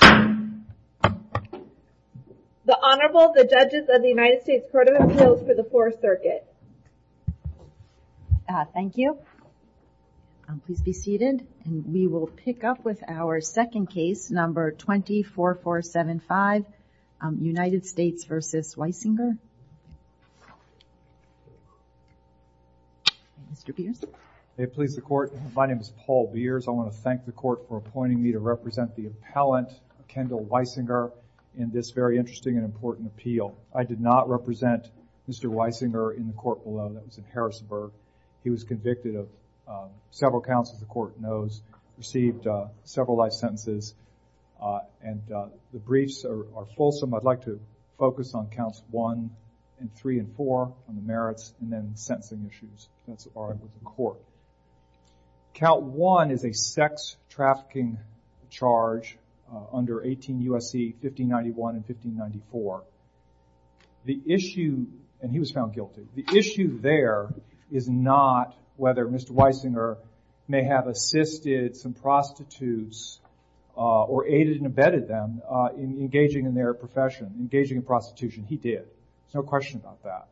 The Honorable, the Judges of the United States Court of Appeals for the 4th Circuit. Thank you. Please be seated. And we will pick up with our second case, number 24475, United States v. Wysinger. Mr. Beers. It pleases the Court. My name is Paul Beers. I want to thank the Court for appointing me to represent the appellant, Kendall Wysinger, in this very interesting and important appeal. I did not represent Mr. Wysinger in the court below. That was in Harrisburg. He was convicted of several counts, as the Court knows, received several life sentences, and the briefs are fulsome. I'd like to focus on counts 1 and 3 and 4, on the merits, and then sentencing issues that are with the Court. Count 1 is a sex trafficking charge under 18 U.S.C. 1591 and 1594. The issue, and he was found guilty, the issue there is not whether Mr. Wysinger may have assisted some prostitutes or aided and abetted them in engaging in their profession, engaging in prostitution. He did. There's no question about that.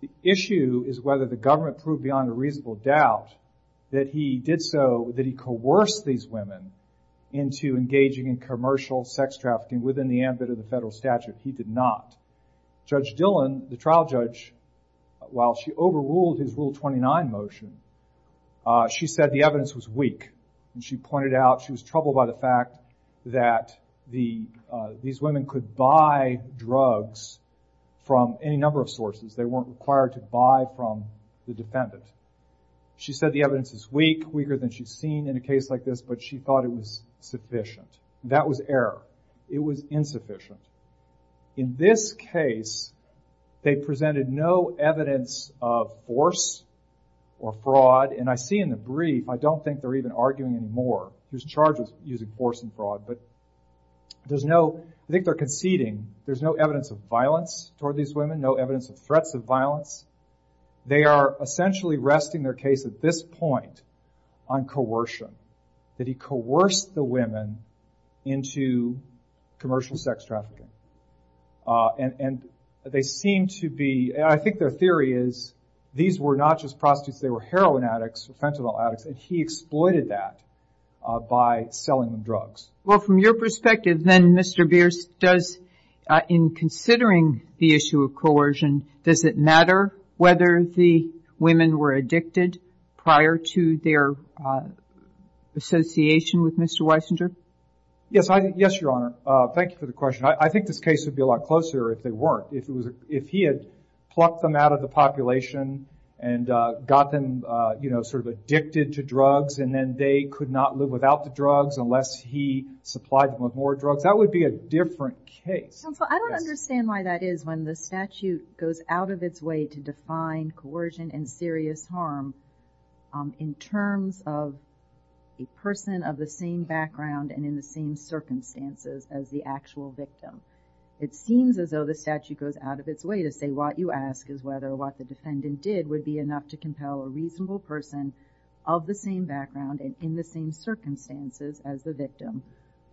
The issue is whether the government proved beyond a reasonable doubt that he did so, that he coerced these women into engaging in commercial sex trafficking within the ambit of the federal statute. He did not. Judge Dillon, the trial judge, while she overruled his Rule 29 motion, she said the evidence was weak, and she pointed out she was troubled by the fact that these women could buy drugs from any number of sources. They weren't required to buy from the defendant. She said the evidence is weak, weaker than she'd seen in a case like this, but she thought it was sufficient. That was error. It was insufficient. In this case, they presented no evidence of force or fraud, and I see in the brief, I don't think they're even arguing anymore who's charged with using force and fraud, but there's no, I think they're conceding there's no evidence of violence toward these women, no evidence of threats of violence. They are essentially resting their case at this point on coercion, that he coerced the women into commercial sex trafficking. They seem to be, I think their theory is these were not just prostitutes. They were heroin addicts or fentanyl addicts, and he exploited that by selling them drugs. Well, from your perspective, then, Mr. Bierce, does, in considering the issue of coercion, does it matter whether the women were addicted prior to their association with Mr. Weisinger? Yes, I, yes, Your Honor. Thank you for the question. I think this case would be a lot different if the defendant was a prostitute and got them, you know, sort of addicted to drugs and then they could not live without the drugs unless he supplied them with more drugs. That would be a different case. Counsel, I don't understand why that is when the statute goes out of its way to define coercion and serious harm in terms of a person of the same background and in the same circumstances as the actual victim. It seems as though the statute goes out of its way to say what you defendant did would be enough to compel a reasonable person of the same background and in the same circumstances as the victim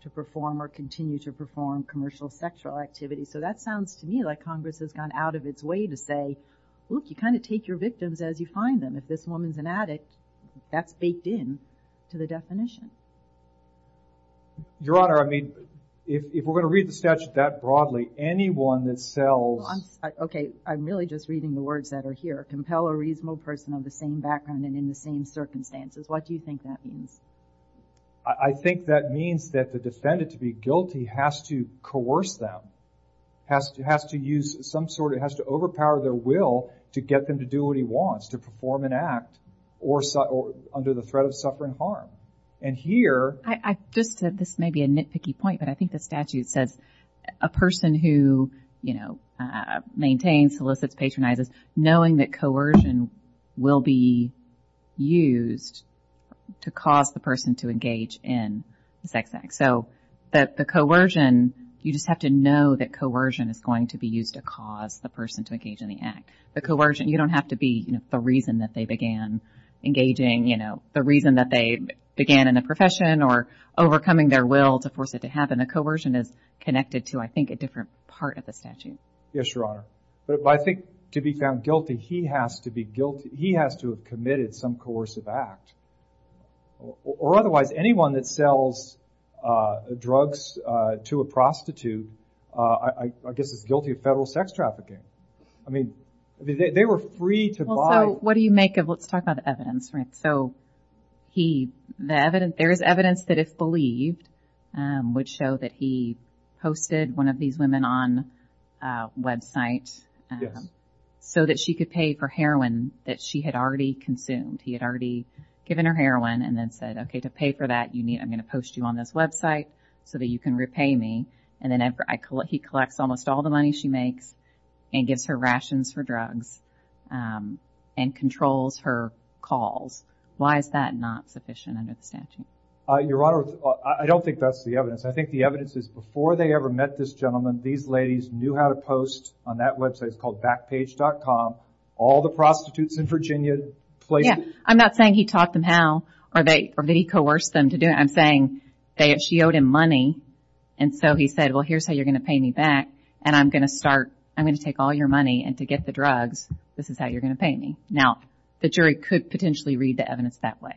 to perform or continue to perform commercial sexual activity. So that sounds to me like Congress has gone out of its way to say, look, you kind of take your victims as you find them. If this woman's an addict, that's baked in to the definition. Your Honor, I mean, if we're going to read the statute that broadly, anyone that sells Okay. I'm really just reading the words that are here. Compel a reasonable person of the same background and in the same circumstances. What do you think that means? I think that means that the defendant to be guilty has to coerce them, has to use some sort of, has to overpower their will to get them to do what he wants, to perform an act or under the threat of suffering harm. And here I just said this may be a nitpicky point, but I think the statute says a person who, you know, maintains, solicits, patronizes, knowing that coercion will be used to cause the person to engage in the sex act. So that the coercion, you just have to know that coercion is going to be used to cause the person to engage in the act. The coercion, you don't have to be, you know, the reason that they began engaging, you know, the reason that they began in a profession or overcoming their will to force it to happen. The coercion is I think a different part of the statute. Yes, Your Honor. But I think to be found guilty, he has to be guilty. He has to have committed some coercive act or otherwise anyone that sells drugs to a prostitute, I guess is guilty of federal sex trafficking. I mean, they were free to buy. So what do you make of, let's talk about the evidence, right? So he, there is evidence that if believed, um, would show that he hosted one of these women on a website so that she could pay for heroin that she had already consumed. He had already given her heroin and then said, okay, to pay for that, you need, I'm going to post you on this website so that you can repay me. And then I collect, he collects almost all the money she makes and gives her rations for drugs, um, and controls her calls. Why is that not sufficient under the statute? Uh, Your Honor, I don't think that's the evidence. I think the evidence is before they ever met this gentleman, these ladies knew how to post on that website. It's called backpage.com. All the prostitutes in Virginia. Yeah. I'm not saying he taught them how or that he coerced them to do it. I'm saying she owed him money and so he said, well, here's how you're going to pay me back and I'm going to start, I'm going to take all your money and to get the drugs, this is how you're going to pay me. Now the jury could potentially read the evidence that way.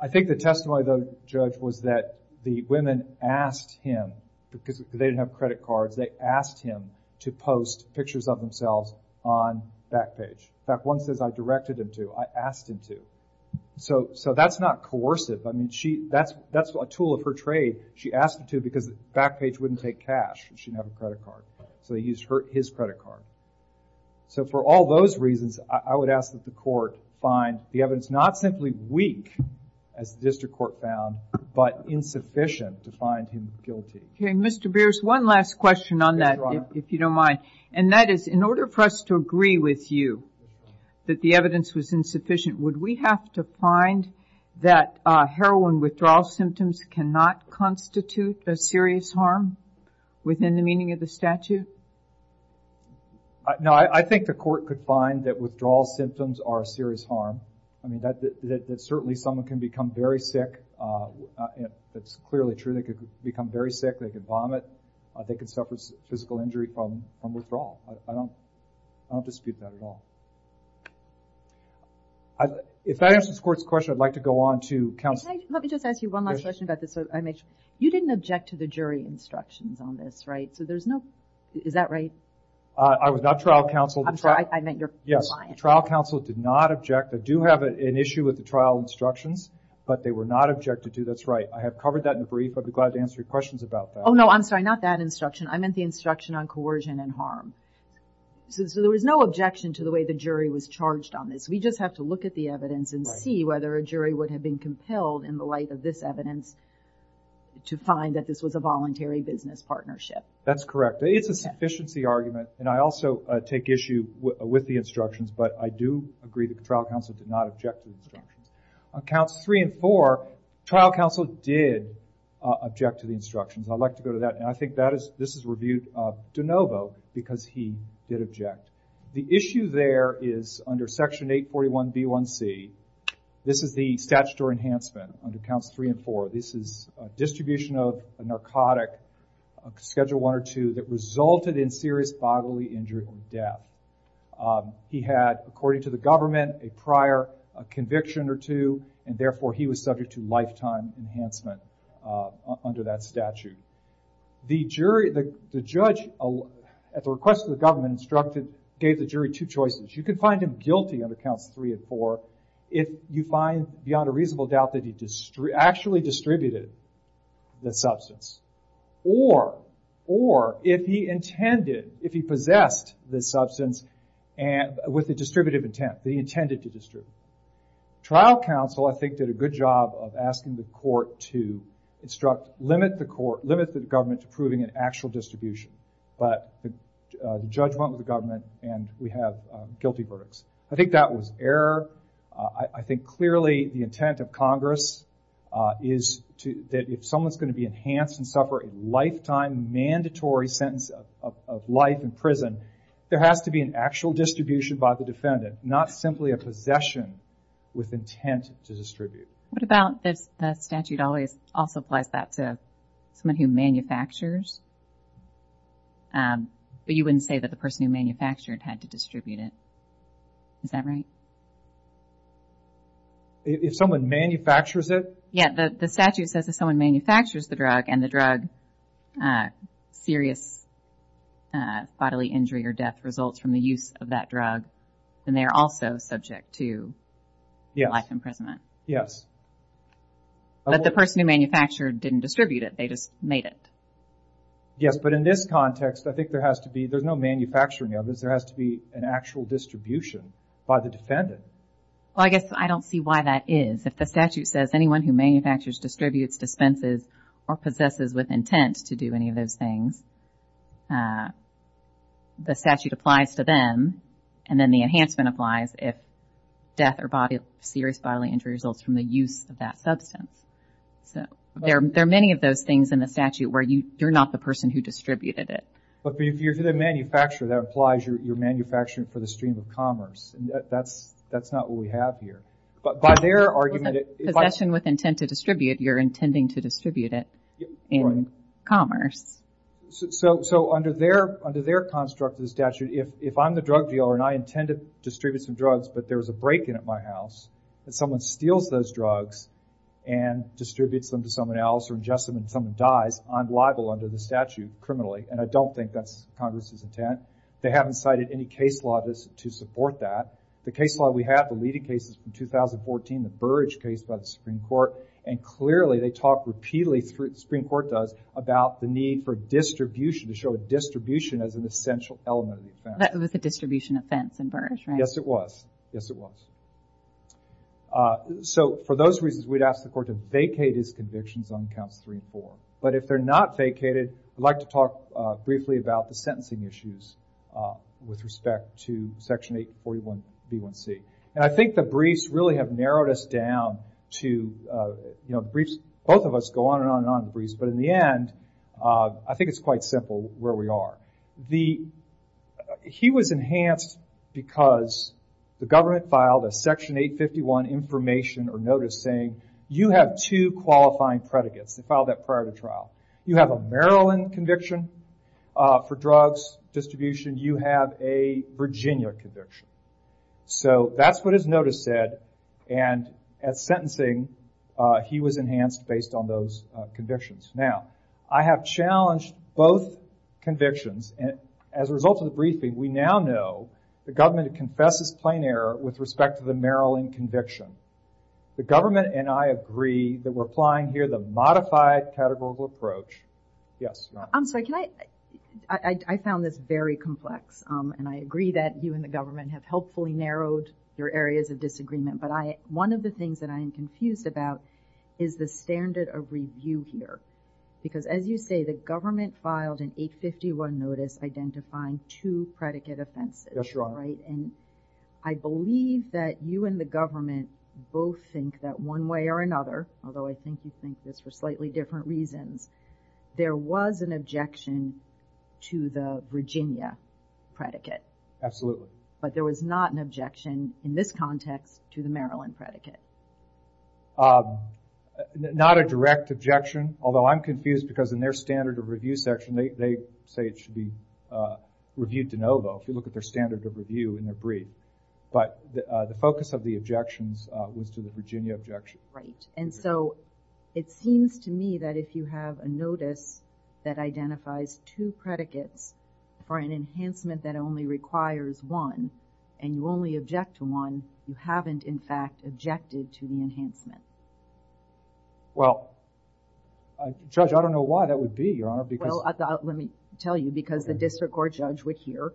I think the testimony of the judge was that the women asked him because they didn't have credit cards. They asked him to post pictures of themselves on Backpage. In fact, one says I directed him to, I asked him to. So, so that's not coercive. I mean, she, that's, that's a tool of her trade. She asked him to because Backpage wouldn't take cash and she didn't have a credit card. So they used her, his credit card. So for all those reasons, I would ask that the court find the evidence not simply weak as the district court found, but insufficient to find him guilty. Okay. Mr. Beers, one last question on that, if you don't mind. And that is in order for us to agree with you that the evidence was insufficient, would we have to find that a heroin withdrawal symptoms cannot constitute a serious harm within the meaning of the statute? No, I think the court could find that withdrawal symptoms are a serious harm. I mean, that, that certainly someone can become very sick. That's clearly true. They could become very sick. They could vomit. They could suffer physical injury from, from withdrawal. I don't, I don't dispute that at all. If that answers the court's question, I'd like to go on to counsel. Let me just ask you one last question about this so I make sure. You didn't object to the jury instructions on this, right? So there's no, is that right? I was not trial counsel. I'm sorry. I meant your client. Yes. Trial counsel did not object. I do have an issue with the trial instructions, but they were not objected to. That's right. I have covered that in brief. I'd be glad to answer your questions about that. Oh no, I'm sorry. Not that instruction. I meant the instruction on coercion and harm. So there was no objection to the way the jury was charged on this. We just have to look at the evidence and see whether a jury would have been compelled in the light of this evidence to find that this was a voluntary business partnership. That's correct. It's a sufficiency argument, and I also take issue with the instructions, but I do agree that the trial counsel did not object to the instructions. On counts three and four, trial counsel did object to the instructions. I'd like to go to that, and I think that is, this is reviewed de novo because he did object. The issue there is under section 841B1C, this is the statutory narcotic, schedule one or two, that resulted in serious bodily injury or death. He had, according to the government, a prior conviction or two, and therefore he was subject to lifetime enhancement under that statute. The judge, at the request of the government, gave the jury two choices. You could find him guilty on the counts three and four if you find beyond a reasonable doubt that he actually distributed the substance, or if he intended, if he possessed the substance with a distributive intent, that he intended to distribute. Trial counsel, I think, did a good job of asking the court to instruct, limit the government to proving an actual distribution, but the judge went with the government, and we have guilty verdicts. I think that was error. I think clearly the intent of Congress is that if someone's going to be enhanced and suffer a lifetime mandatory sentence of life in prison, there has to be an actual distribution by the defendant, not simply a possession with intent to distribute. What about the statute also applies that to someone who manufactures? But you wouldn't say that the person who manufactured had to distribute it. Is that right? If someone manufactures it? Yeah, the statute says if someone manufactures the drug, and the drug, serious bodily injury or death results from the use of that drug, then they are also subject to life imprisonment. But the person who manufactured didn't distribute it, they just made it. Yes, but in this context, I think there has to be, there's no manufacturing of this, there has to be an actual distribution by the defendant. Well, I guess I don't see why that is. If the statute says anyone who manufactures, distributes, dispenses, or possesses with intent to do any of those things, the statute applies to them, and then the enhancement applies if death or serious bodily injury results from the use of that substance. So, there are many of those things in the statute where you're not the person who distributed it. But if you're the manufacturer, that implies you're manufacturing for the stream of commerce. That's not what we have here. But by their argument, if I... Possession with intent to distribute, you're intending to distribute it in commerce. So under their construct of the statute, if I'm the drug dealer and I intend to distribute some drugs, but there's a break-in at my house, and someone steals those drugs and distributes them to someone else or ingests them and someone dies, I'm liable under the statute, criminally, and I don't think that's Congress's intent. They haven't cited any case law to support that. The case law we have, the leading cases from 2014, the Burge case by the Supreme Court, and clearly they talk repeatedly, the Supreme Court does, about the need for distribution, to show distribution as an essential element of the offense. That was a distribution offense in Burge, right? Yes, it was. Yes, it was. So, for those reasons, we'd ask the court to vacate his convictions on counts three and four. But if they're not vacated, I'd like to talk briefly about the sentencing issues with respect to section 841b1c. And I think the briefs really have narrowed us down to, you know, briefs, both of us go on and on and on in the briefs, but in the end, I think it's quite simple where we are. Now, he was enhanced because the government filed a section 851 information or notice saying you have two qualifying predicates. They filed that prior to trial. You have a Maryland conviction for drugs distribution. You have a Virginia conviction. So that's what his notice said, and at sentencing, he was enhanced based on those convictions. Now, I have challenged both convictions, and as a result of the briefing, we now know the government confesses plain error with respect to the Maryland conviction. The government and I agree that we're applying here the modified categorical approach. Yes, Nona. I'm sorry, can I? I found this very complex, and I agree that you and the government have helpfully narrowed your areas of disagreement, but one of the things that I am confused about is the standard of review here, because as you say, the government filed an 851 notice identifying two predicate offenses, right, and I believe that you and the government both think that one way or another, although I think you think this for slightly different reasons, there was an objection to the Virginia predicate, but there was not an objection in this context to the Maryland predicate. Not a direct objection, although I'm confused because in their standard of review section, they say it should be reviewed de novo, if you look at their standard of review in their brief, but the focus of the objections was to the Virginia objection. Right, and so it seems to me that if you have a notice that identifies two predicates for an enhancement that only requires one, and you only object to one, you haven't in fact objected to the enhancement. Well, Judge, I don't know why that would be, Your Honor, because... Well, let me tell you, because the district court judge would hear,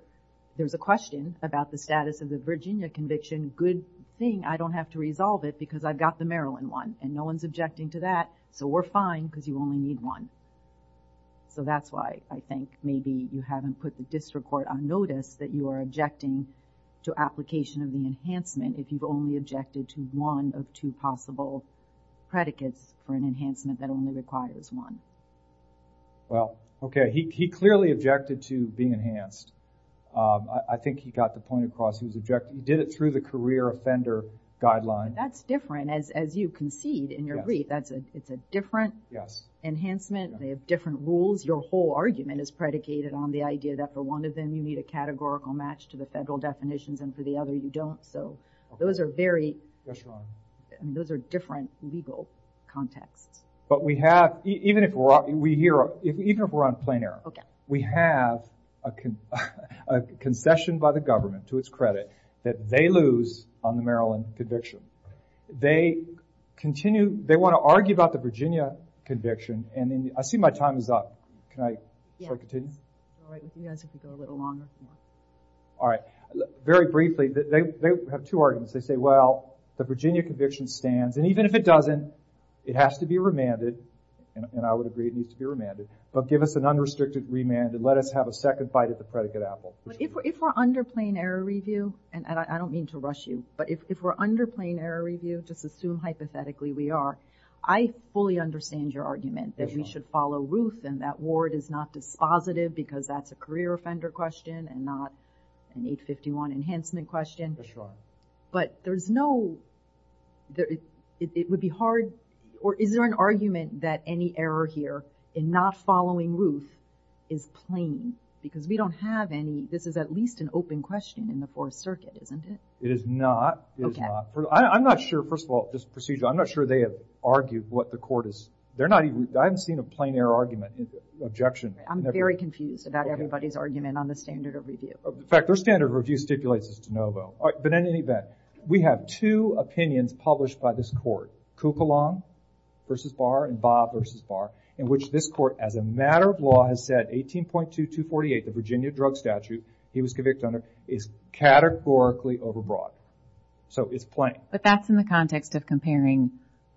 there's a question about the status of the Virginia conviction, good thing I don't have to resolve it because I've got the Maryland one, and no one's objecting to that, so we're fine because you only need one. So that's why I think maybe you haven't put the district court on notice that you are objecting to application of the enhancement if you've only objected to one of two possible predicates for an enhancement that only requires one. Well, okay, he clearly objected to being enhanced. I think he got the point across, he did it through the career offender guideline. That's different, as you concede in your brief, it's a different enhancement. They have different rules, your whole argument is predicated on the idea that for one of them you need a categorical match to the federal definitions, and for the other you don't, so those are very, those are different legal contexts. But we have, even if we're on plain air, we have a concession by the government to its credit that they lose on the Maryland conviction. They continue, they want to argue about the Virginia conviction, and then, I see my time is up, can I, should I continue? Alright, very briefly, they have two arguments, they say, well, the Virginia conviction stands, and even if it doesn't, it has to be remanded, and I would agree it needs to be remanded, but give us an unrestricted remand and let us have a second fight at the predicate apple. If we're under plain air review, and I don't mean to rush you, but if we're under plain air review, just assume hypothetically we are, I fully understand your argument that we should follow Ruth and that Ward is not dispositive because that's a career offender question and not an 851 enhancement question, but there's no, it would be hard, or is there an argument that any error here in not following Ruth is plain, because we don't have any, this is at least an open question in the Fourth Circuit, isn't it? It is not, it is not. I'm not sure, first of all, this procedure, I'm not sure they have argued what the court is, they're not even, I haven't seen a plain air argument, objection. I'm very confused about everybody's argument on the standard of review. In fact, their standard of review stipulates this to know though, but in any event, we have two opinions published by this court, Kukulon v. Barr and Barr v. Barr, in which this court, as a matter of law, has said 18.2248, the Virginia drug statute he was convicted under is categorically overbroad. So it's plain. But that's in the context of comparing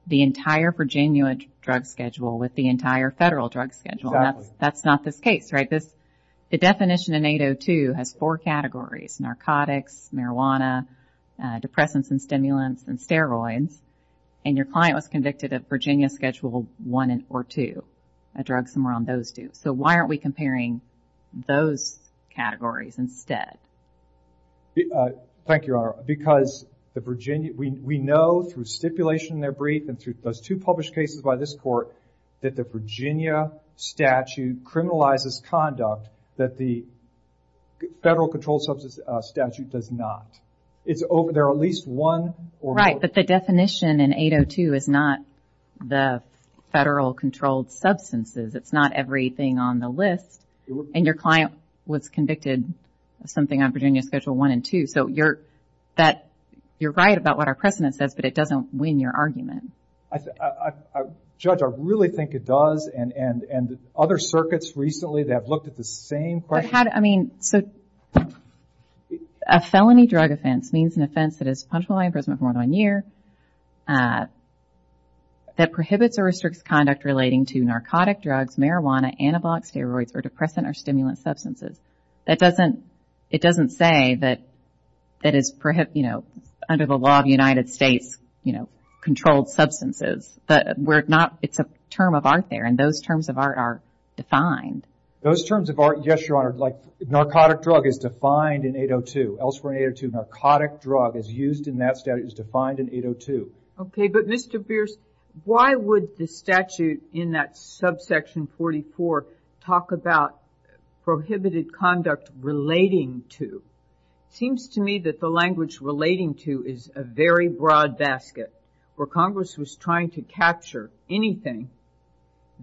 the entire Virginia drug schedule with the entire federal drug schedule. Exactly. That's not this case, right? Because the definition in 802 has four categories, narcotics, marijuana, depressants and stimulants, and steroids, and your client was convicted of Virginia Schedule I or II, a drug somewhere on those two. So why aren't we comparing those categories instead? Thank you, Your Honor. Because the Virginia, we know through stipulation in their brief and through those two published cases by this court, that the Virginia statute criminalizes conduct that the federal controlled substance statute does not. It's over, there are at least one or more. Right, but the definition in 802 is not the federal controlled substances. It's not everything on the list. And your client was convicted of something on Virginia Schedule I and II. So you're right about what our precedent says, but it doesn't win your argument. Judge, I really think it does, and other circuits recently, they have looked at the same question. But how, I mean, so a felony drug offense means an offense that is punctual by imprisonment for more than one year, that prohibits or restricts conduct relating to narcotic drugs, marijuana, antibiotics, steroids, or depressant or stimulant substances. That doesn't, it doesn't say that it is, you know, under the law of the United States, you know, controlled substances. That we're not, it's a term of art there, and those terms of art are defined. Those terms of art, yes, Your Honor, like narcotic drug is defined in 802. Elsewhere in 802, narcotic drug is used in that statute, is defined in 802. Okay, but Mr. Bierce, why would the statute in that subsection 44 talk about prohibited conduct relating to? Seems to me that the language relating to is a very broad basket, where Congress was trying to capture anything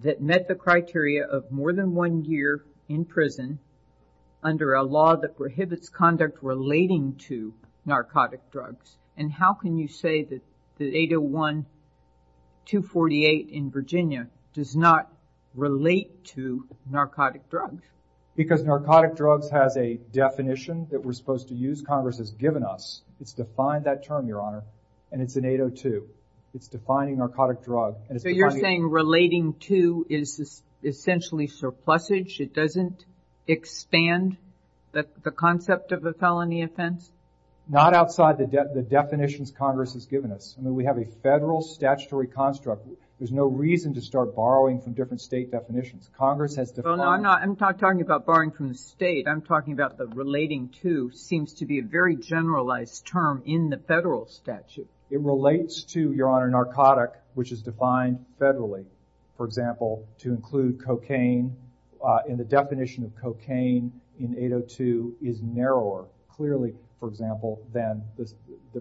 that met the criteria of more than one year in prison under a law that prohibits conduct relating to narcotic drugs. And how can you say that 801-248 in Virginia does not relate to narcotic drugs? Because narcotic drugs has a definition that we're supposed to use. Congress has given us. It's defined that term, Your Honor, and it's in 802. It's defining narcotic drug. So you're saying relating to is essentially surplusage? It doesn't expand the concept of a felony offense? Not outside the definitions Congress has given us. I mean, we have a federal statutory construct. There's no reason to start borrowing from different state definitions. Congress has defined. Well, no, I'm not talking about borrowing from the state. I'm talking about the relating to seems to be a very generalized term in the federal statute. It relates to, Your Honor, narcotic, which is defined federally. For example, to include cocaine in the definition of cocaine in 802 is narrower, clearly, for example, than the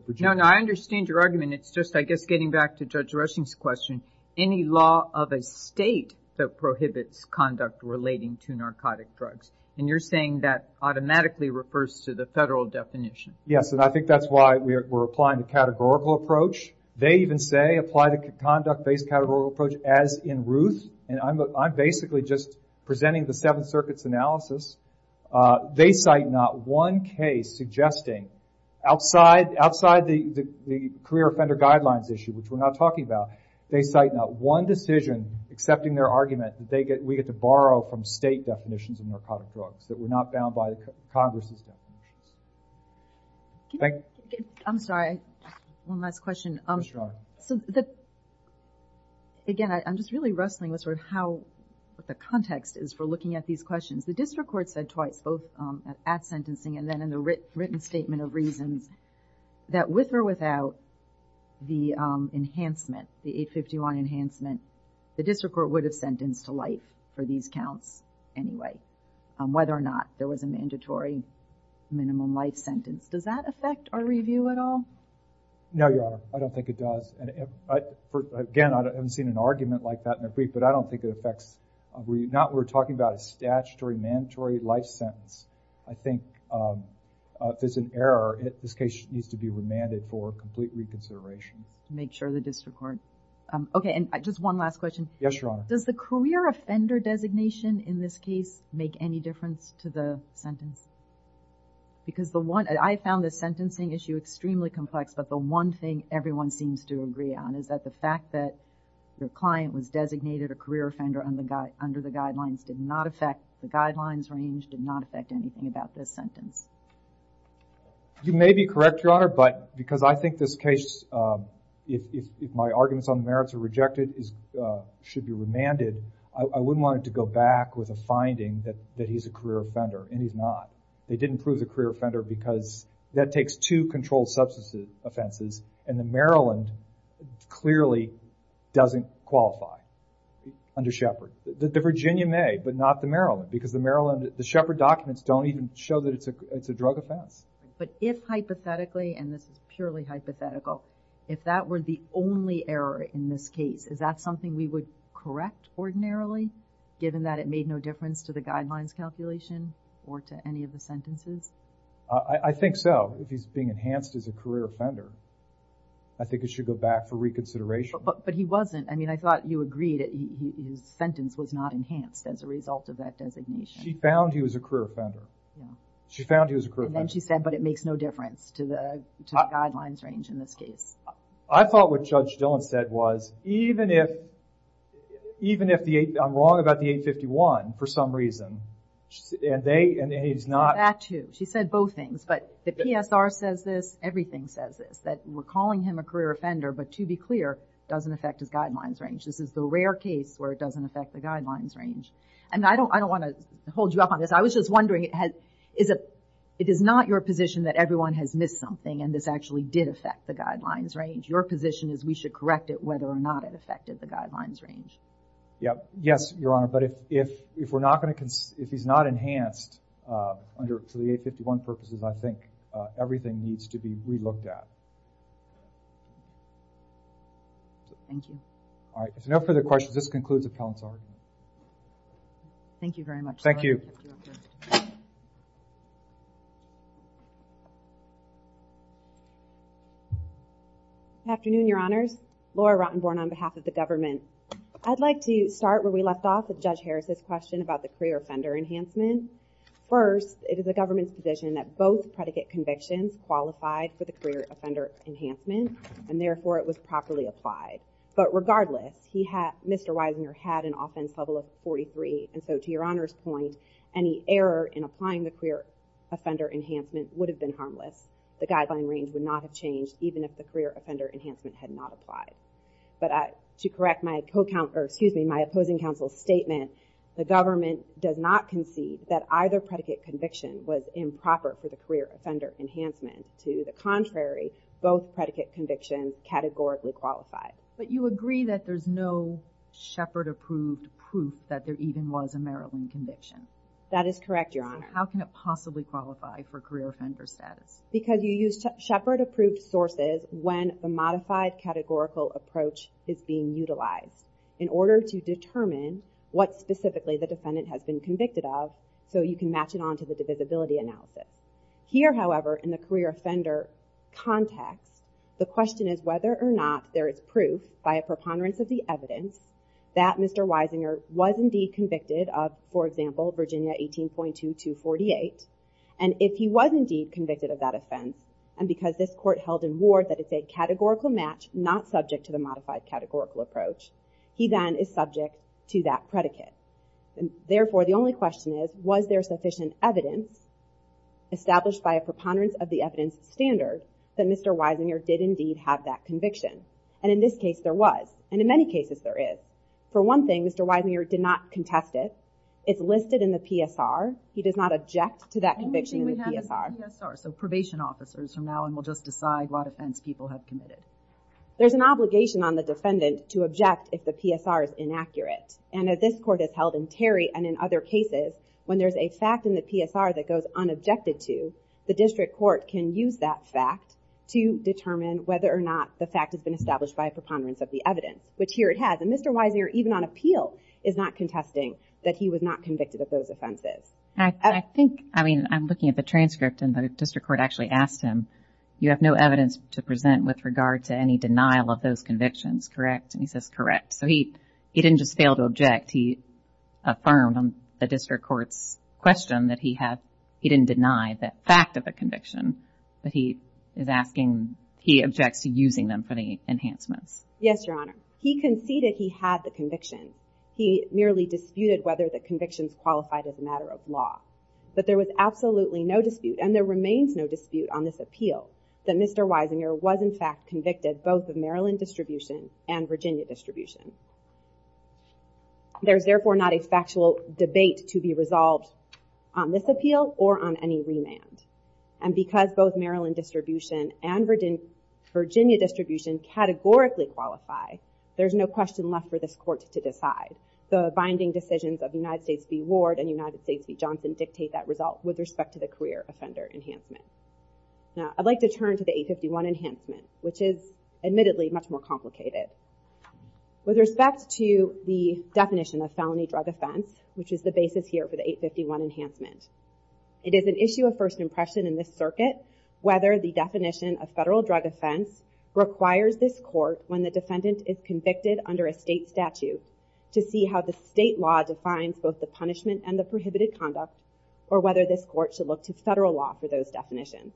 Virginia. No, no, I understand your argument. It's just, I guess, getting back to Judge Rushing's question, any law of a state that prohibits conduct relating to narcotic drugs. And you're saying that automatically refers to the federal definition? Yes, and I think that's why we're applying the categorical approach. They even say apply the conduct-based categorical approach as in Ruth. And I'm basically just presenting the Seventh Circuit's analysis. They cite not one case suggesting, outside the career offender guidelines issue, which we're not talking about, they cite not one decision accepting their argument that we get to borrow from state definitions of narcotic drugs that were not bound by Congress's definition. I'm sorry, one last question. Sure. Again, I'm just really wrestling with sort of how the context is for looking at these questions. The district court said twice, both at sentencing and then in the written statement of reasons, that with or without the enhancement, the 851 enhancement, the district court would have sentenced to life for these counts anyway, whether or not there was a mandatory minimum life sentence. Does that affect our review at all? No, Your Honor, I don't think it does. Again, I haven't seen an argument like that in a brief, but I don't think it affects. We're not talking about a statutory mandatory life sentence. I think if there's an error, this case needs to be remanded for complete reconsideration. Make sure the district court. Okay, and just one last question. Yes, Your Honor. Does the career offender designation in this case make any difference to the sentence? Because I found the sentencing issue extremely complex, but the one thing everyone seems to agree on is that the fact that your client was designated a career offender under the guidelines did not affect the guidelines range, did not affect anything about this sentence. You may be correct, Your Honor, but because I think this case, if my arguments on the merits are rejected, should be remanded, I wouldn't want it to go back with a finding that he's a career offender, and he's not. They didn't prove the career offender because that takes two controlled substance offenses, and the Maryland clearly doesn't qualify under Shepard. The Virginia may, but not the Maryland, because the Maryland, the Shepard documents don't even show that it's a drug offense. But if hypothetically, and this is purely hypothetical, if that were the only error in this case, is that something we would correct ordinarily, given that it made no difference to the guidelines calculation or to any of the sentences? I think so. If he's being enhanced as a career offender, I think it should go back for reconsideration. But he wasn't. I mean, I thought you agreed that his sentence was not enhanced as a result of that designation. She found he was a career offender. And then she said, but it makes no difference to the guidelines range in this case. I thought what Judge Dillon said was, even if, even if I'm wrong about the 851 for some reason, and they, and he's not. She said both things, but the PSR says this, everything says this, that we're calling him a career offender, but to be clear, doesn't affect his guidelines range. This is the rare case where it doesn't affect the guidelines range. And I don't want to hold you up on this. I was just wondering, is it, it is not your position that everyone has missed something and this actually did affect the guidelines range. Your position is we should correct it whether or not it affected the guidelines range. Yeah. Yes, Your Honor. But if, if, if we're not going to, if he's not enhanced under, for the 851 purposes, I think everything needs to be re-looked at. Thank you. All right. If there are no further questions, this concludes appellant's argument. Thank you very much. Thank you. Good afternoon, Your Honors. Laura Rottenborn on behalf of the government. I'd like to start where we left off with Judge Harris's question about the career offender enhancement. First, it is the government's position that both predicate convictions qualified for the career offender enhancement, and therefore it was properly applied. But regardless, he had, Mr. Wiesner had an offense level of 43, and so to Your Honor's point, any error in applying the career offender enhancement would have been harmless. The guideline range would not have changed even if the career offender enhancement had not applied. But I, to correct my co-counsel, or excuse me, my opposing counsel's statement, the government does not concede that either predicate conviction was improper for the career offender enhancement. To the contrary, both predicate convictions categorically qualified. But you agree that there's no Shepard-approved proof that there even was a Maryland conviction? That is correct, Your Honor. How can it possibly qualify for career offender status? Because you use Shepard-approved sources when the modified categorical approach is being utilized in order to determine what specifically the defendant has been convicted of, so you can match it on to the divisibility analysis. Here, however, in the career offender context, the question is whether or not there is proof, by a preponderance of the evidence, that Mr. Wiesner was indeed convicted of, for example, Virginia 18.2248. And if he was indeed convicted of that offense, and because this court held in war that it's a categorical match not subject to the modified categorical approach, he then is subject to that predicate. Therefore, the only question is, was there sufficient evidence established by a preponderance of the evidence standard that Mr. Wiesner did indeed have that conviction? And in this case, there was. And in many cases, there is. For one thing, Mr. Wiesner did not contest it. It's listed in the PSR. He does not object to that conviction in the PSR. The only thing we have is the PSR, so probation officers from now on will just decide what offense people have committed. There's an obligation on the defendant to object if the PSR is inaccurate. And as this court has held in Terry and in other cases, when there's a fact in the PSR that goes unobjected to, the district court can use that fact to determine whether or not the fact has been established by a preponderance of the evidence, which here it has. And Mr. Wiesner, even on appeal, is not contesting that he was not convicted of those offenses. I think, I mean, I'm looking at the transcript, and the district court actually asked him, you have no evidence to present with regard to any denial of those convictions, correct? And he says, correct. So he didn't just fail to object. He affirmed on the district court's question that he had, he didn't deny the fact of the conviction, but he is asking, he objects to using them for the enhancements. Yes, Your Honor. He conceded he had the conviction. He merely disputed whether the convictions qualified as a matter of law. But there was absolutely no dispute, and there remains no dispute on this appeal, that Mr. Wiesner was in fact convicted both of Maryland distribution and Virginia distribution. There's therefore not a factual debate to be resolved on this appeal or on any remand. And because both Maryland distribution and Virginia distribution categorically qualify, there's no question left for this court to decide. The binding decisions of United States v. Ward and United States v. Johnson dictate that result with respect to the career offender enhancement. Now, I'd like to turn to the 851 enhancement, which is admittedly much more complicated. With respect to the definition of felony drug offense, which is the basis here for the 851 enhancement, it is an issue of first impression in this circuit whether the definition of federal drug offense requires this court, when the defendant is convicted under a state statute, to see how the state law defines both the punishment and the prohibited conduct, or whether this court should look to federal law for those definitions.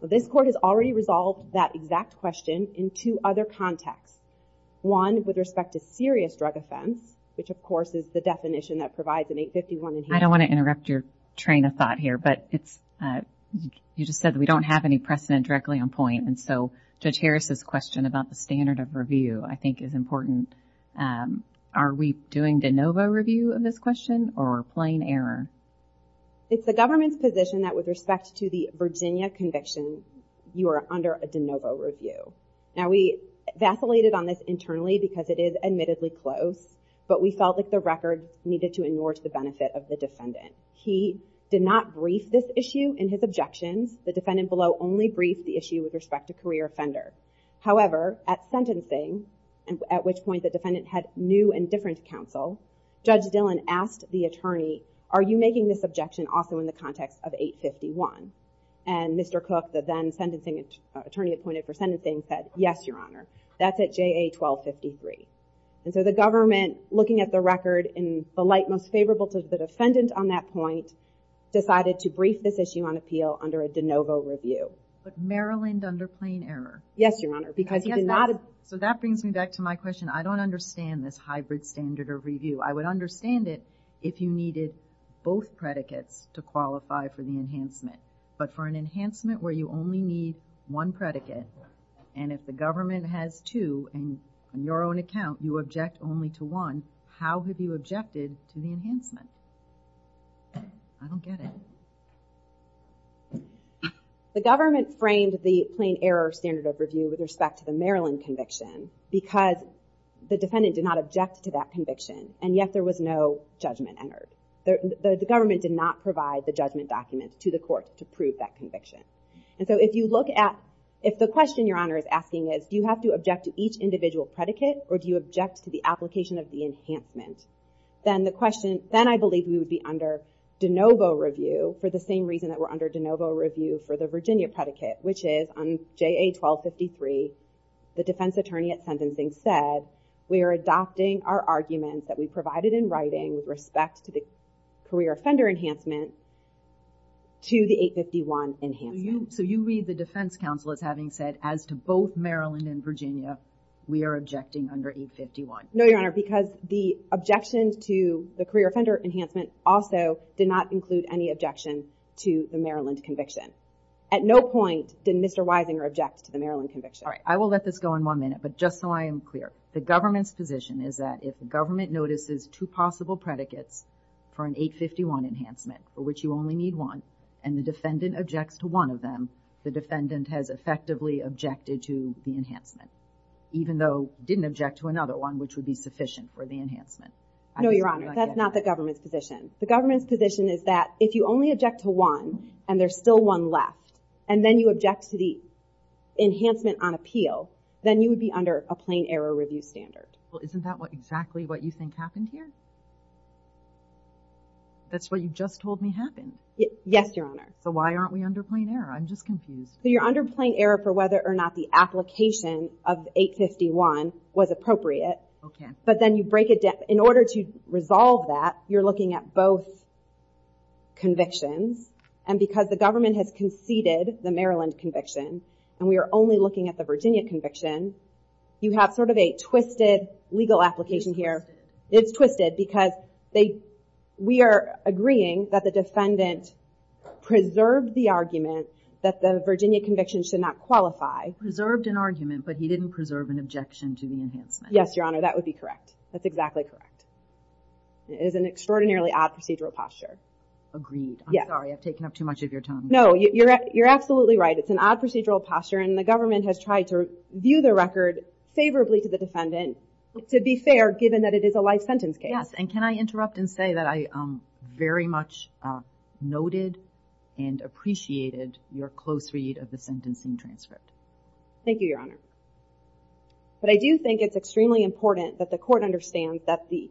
This court has already resolved that exact question in two other contexts, one with respect to serious drug offense, which of course is the definition that provides an 851 enhancement. I don't want to interrupt your train of thought here, but you just said that we don't have any precedent directly on point. And so Judge Harris's question about the standard of review, I think, is important. Are we doing de novo review of this question or plain error? It's the government's position that with respect to the Virginia conviction, you are under a de novo review. Now, we vacillated on this internally because it is admittedly close, but we felt like the record needed to endorse the benefit of the defendant. He did not brief this issue in his objections. The defendant below only briefed the issue with respect to career offender. However, at sentencing, at which point the defendant had new and different counsel, Judge Dillon asked the attorney, are you making this objection also in the context of 851? And Mr. Cook, the then sentencing attorney appointed for sentencing, said, yes, Your Honor. That's at JA 1253. And so the government, looking at the record in the light most favorable to the defendant on that point, decided to brief this issue on appeal under a de novo review. But Maryland under plain error. Yes, Your Honor. So that brings me back to my question. I don't understand this hybrid standard of review. I would understand it if you needed both predicates to qualify for the enhancement. But for an enhancement where you only need one predicate, and if the government has two in your own account, you object only to one, how have you objected to the enhancement? I don't get it. The government framed the plain error standard of review with respect to the Maryland conviction because the defendant did not object to that conviction, and yet there was no judgment entered. The government did not provide the judgment document to the court to prove that conviction. And so if you look at, if the question Your Honor is asking is, do you have to object to each individual predicate, or do you object to the application of the enhancement, then I believe we would be under de novo review for the same reason that we're under de novo review for the Virginia predicate, which is on JA-1253, the defense attorney at sentencing said, we are adopting our arguments that we provided in writing with respect to the career offender enhancement to the 851 enhancement. So you read the defense counsel as having said, as to both Maryland and Virginia, we are objecting under 851. No, Your Honor, because the objection to the career offender enhancement also did not include any objection to the Maryland conviction. At no point did Mr. Weisinger object to the Maryland conviction. All right, I will let this go on one minute, but just so I am clear, the government's position is that if the government notices two possible predicates for an 851 enhancement, for which you only need one, and the defendant objects to one of them, the defendant has effectively objected to the enhancement, even though didn't object to another one, which would be sufficient for the enhancement. No, Your Honor, that's not the government's position. The government's position is that if you only object to one, and there's still one left, and then you object to the enhancement on appeal, then you would be under a plain error review standard. Well, isn't that exactly what you think happened here? That's what you just told me happened. Yes, Your Honor. So why aren't we under plain error? I'm just confused. So you're under plain error for whether or not the application of 851 was appropriate. Okay. But then you break it down. In order to resolve that, you're looking at both convictions, and because the government has conceded the Maryland conviction, and we are only looking at the Virginia conviction, you have sort of a twisted legal application here. It's twisted. It's twisted because we are agreeing that the defendant preserved the argument that the Virginia conviction should not qualify. Preserved an argument, but he didn't preserve an objection to the enhancement. Yes, Your Honor, that would be correct. That's exactly correct. It is an extraordinarily odd procedural posture. Agreed. I'm sorry, I've taken up too much of your time. No, you're absolutely right. It's an odd procedural posture, and the government has tried to view the record favorably to the defendant, to be fair, given that it is a life sentence case. Yes, and can I interrupt and say that I very much noted and appreciated your close read of the sentence and transcript. Thank you, Your Honor. But I do think it's extremely important that the court understands that the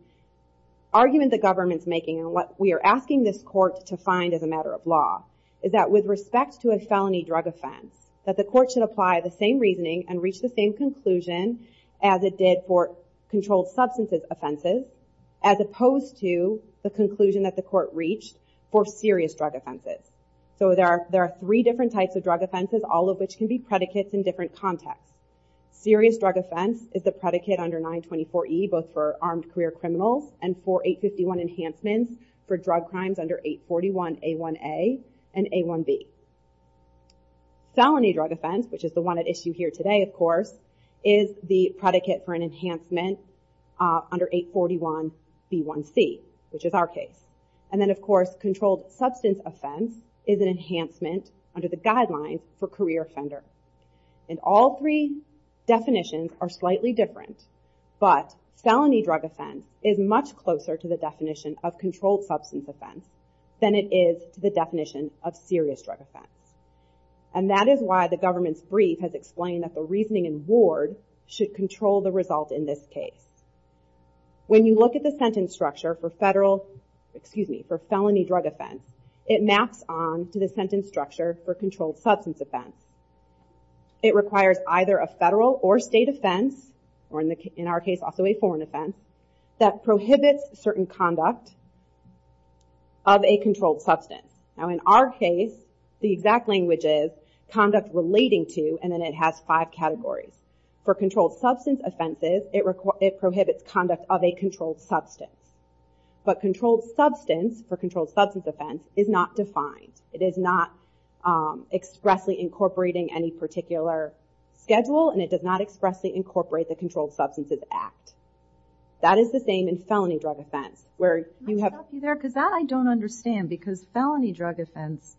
argument the government's making, and what we are asking this court to find as a matter of law, is that with respect to a felony drug offense, that the court should apply the same reasoning and reach the same conclusion as it did for controlled substances offenses, as opposed to the conclusion that the court reached for serious drug offenses. So there are three different types of drug offenses, all of which can be predicates in different contexts. Serious drug offense is the predicate under 924E, both for armed career criminals, and for 851 enhancements for drug crimes under 841A1A and A1B. Felony drug offense, which is the one at issue here today, of course, is the predicate for an enhancement under 841B1C, which is our case. And then, of course, controlled substance offense is an enhancement under the guidelines for career offenders. And all three definitions are slightly different, but felony drug offense is much closer to the definition of controlled substance offense than it is to the definition of serious drug offense. And that is why the government's brief has explained that the reasoning in ward should control the result in this case. When you look at the sentence structure for federal, excuse me, for felony drug offense, it maps on to the sentence structure for controlled substance offense. It requires either a federal or state offense, or in our case, also a foreign offense, that prohibits certain conduct of a controlled substance. Now, in our case, the exact language is conduct relating to, and then it has five categories. For controlled substance offenses, it prohibits conduct of a controlled substance. But controlled substance, for controlled substance offense, is not defined. It is not expressly incorporating any particular schedule, and it does not expressly incorporate the Controlled Substances Act. That is the same in felony drug offense, where you have... Can I stop you there? Because that I don't understand, because felony drug offense,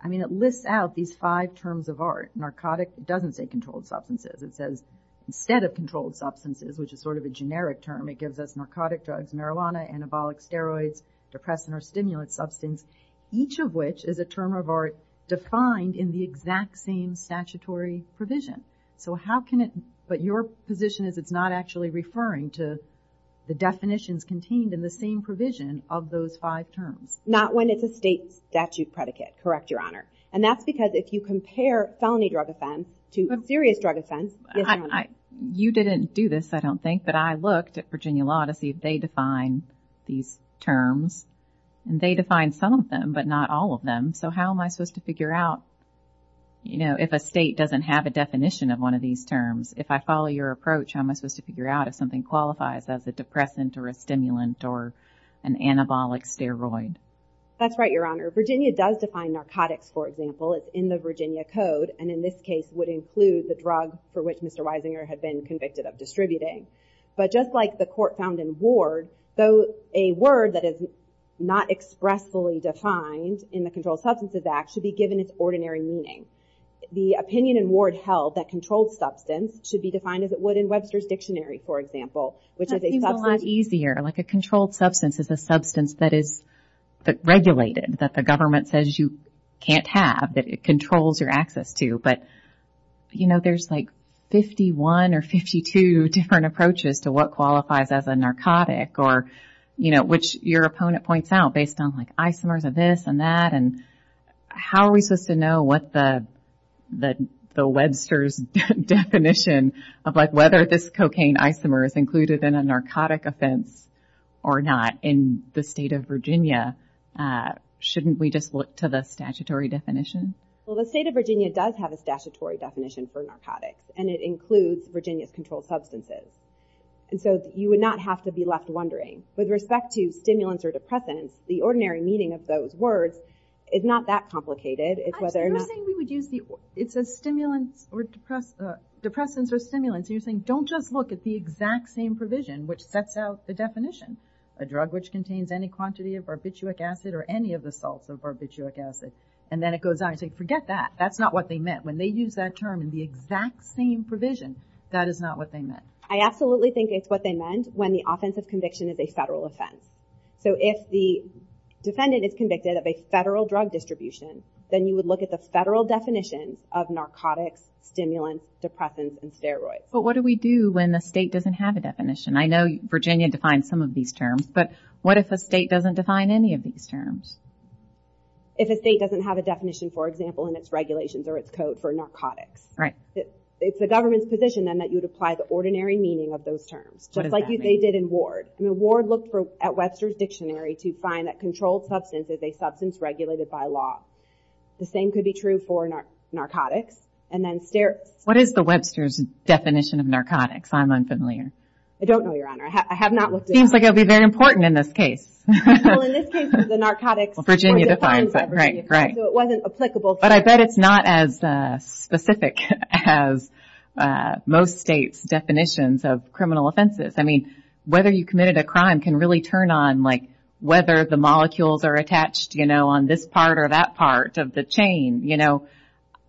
I mean, it lists out these five terms of art. Narcotic doesn't say controlled substances. It says, instead of controlled substances, which is sort of a generic term, it gives us narcotic drugs, marijuana, anabolic steroids, depressant or stimulant substance, each of which is a term of art defined in the exact same statutory provision. So how can it... But your position is it's not actually referring to the definitions contained in the same provision of those five terms. Not when it's a state statute predicate, correct, Your Honor. And that's because if you compare felony drug offense to serious drug offense... You didn't do this, I don't think, but I looked at Virginia law to see if they define these terms, and they define some of them, but not all of them. So how am I supposed to figure out, you know, if a state doesn't have a definition of one of these terms? If I follow your approach, how am I supposed to figure out if something qualifies as a depressant or a stimulant or an anabolic steroid? That's right, Your Honor. Virginia does define narcotics, for example. It's in the Virginia Code, and in this case would include the drug for which Mr. Wisinger had been convicted of distributing. But just like the court found in Ward, a word that is not expressly defined in the Controlled Substances Act should be given its ordinary meaning. The opinion in Ward held that controlled substance should be defined as it would in Webster's Dictionary, for example, which is a substance... That seems a lot easier, like a controlled substance is a substance that is regulated, that the government says you can't have, that it controls your access to. But, you know, there's like 51 or 52 different approaches to what qualifies as a narcotic, or, you know, which your opponent points out based on, like, isomers of this and that and how are we supposed to know what the Webster's definition of, like, whether this cocaine isomer is included in a narcotic offense or not in the state of Virginia? Shouldn't we just look to the statutory definition? Well, the state of Virginia does have a statutory definition for narcotics, and it includes Virginia's controlled substances. And so you would not have to be left wondering. With respect to stimulants or depressants, the ordinary meaning of those words, it's not that complicated. It's whether or not... You're saying we would use the... It says stimulants or depressants... Depressants or stimulants, and you're saying don't just look at the exact same provision which sets out the definition. A drug which contains any quantity of barbituric acid or any of the salts of barbituric acid. And then it goes on, you say, forget that. That's not what they meant. When they use that term in the exact same provision, that is not what they meant. I absolutely think it's what they meant when the offensive conviction is a federal offense. So if the defendant is convicted of a federal drug distribution, then you would look at the federal definitions of narcotics, stimulants, depressants, and steroids. But what do we do when the state doesn't have a definition? I know Virginia defines some of these terms, but what if a state doesn't define any of these terms? If a state doesn't have a definition, for example, in its regulations or its code for narcotics. Right. It's the government's position, then, that you would apply the ordinary meaning of those terms. What does that mean? Just like they did in Ward. I mean, Ward looked at Webster's Dictionary to find that controlled substance is a substance regulated by law. The same could be true for narcotics and then steroids. What is the Webster's definition of narcotics? I'm unfamiliar. I don't know, Your Honor. I have not looked at it. It seems like it would be very important in this case. Well, in this case, it's the narcotics. Well, Virginia defines it. Right, right. So it wasn't applicable. But I bet it's not as specific as most states' definitions of criminal offenses. I mean, whether you committed a crime can really turn on, like, whether the molecules are attached, you know, on this part or that part of the chain, you know.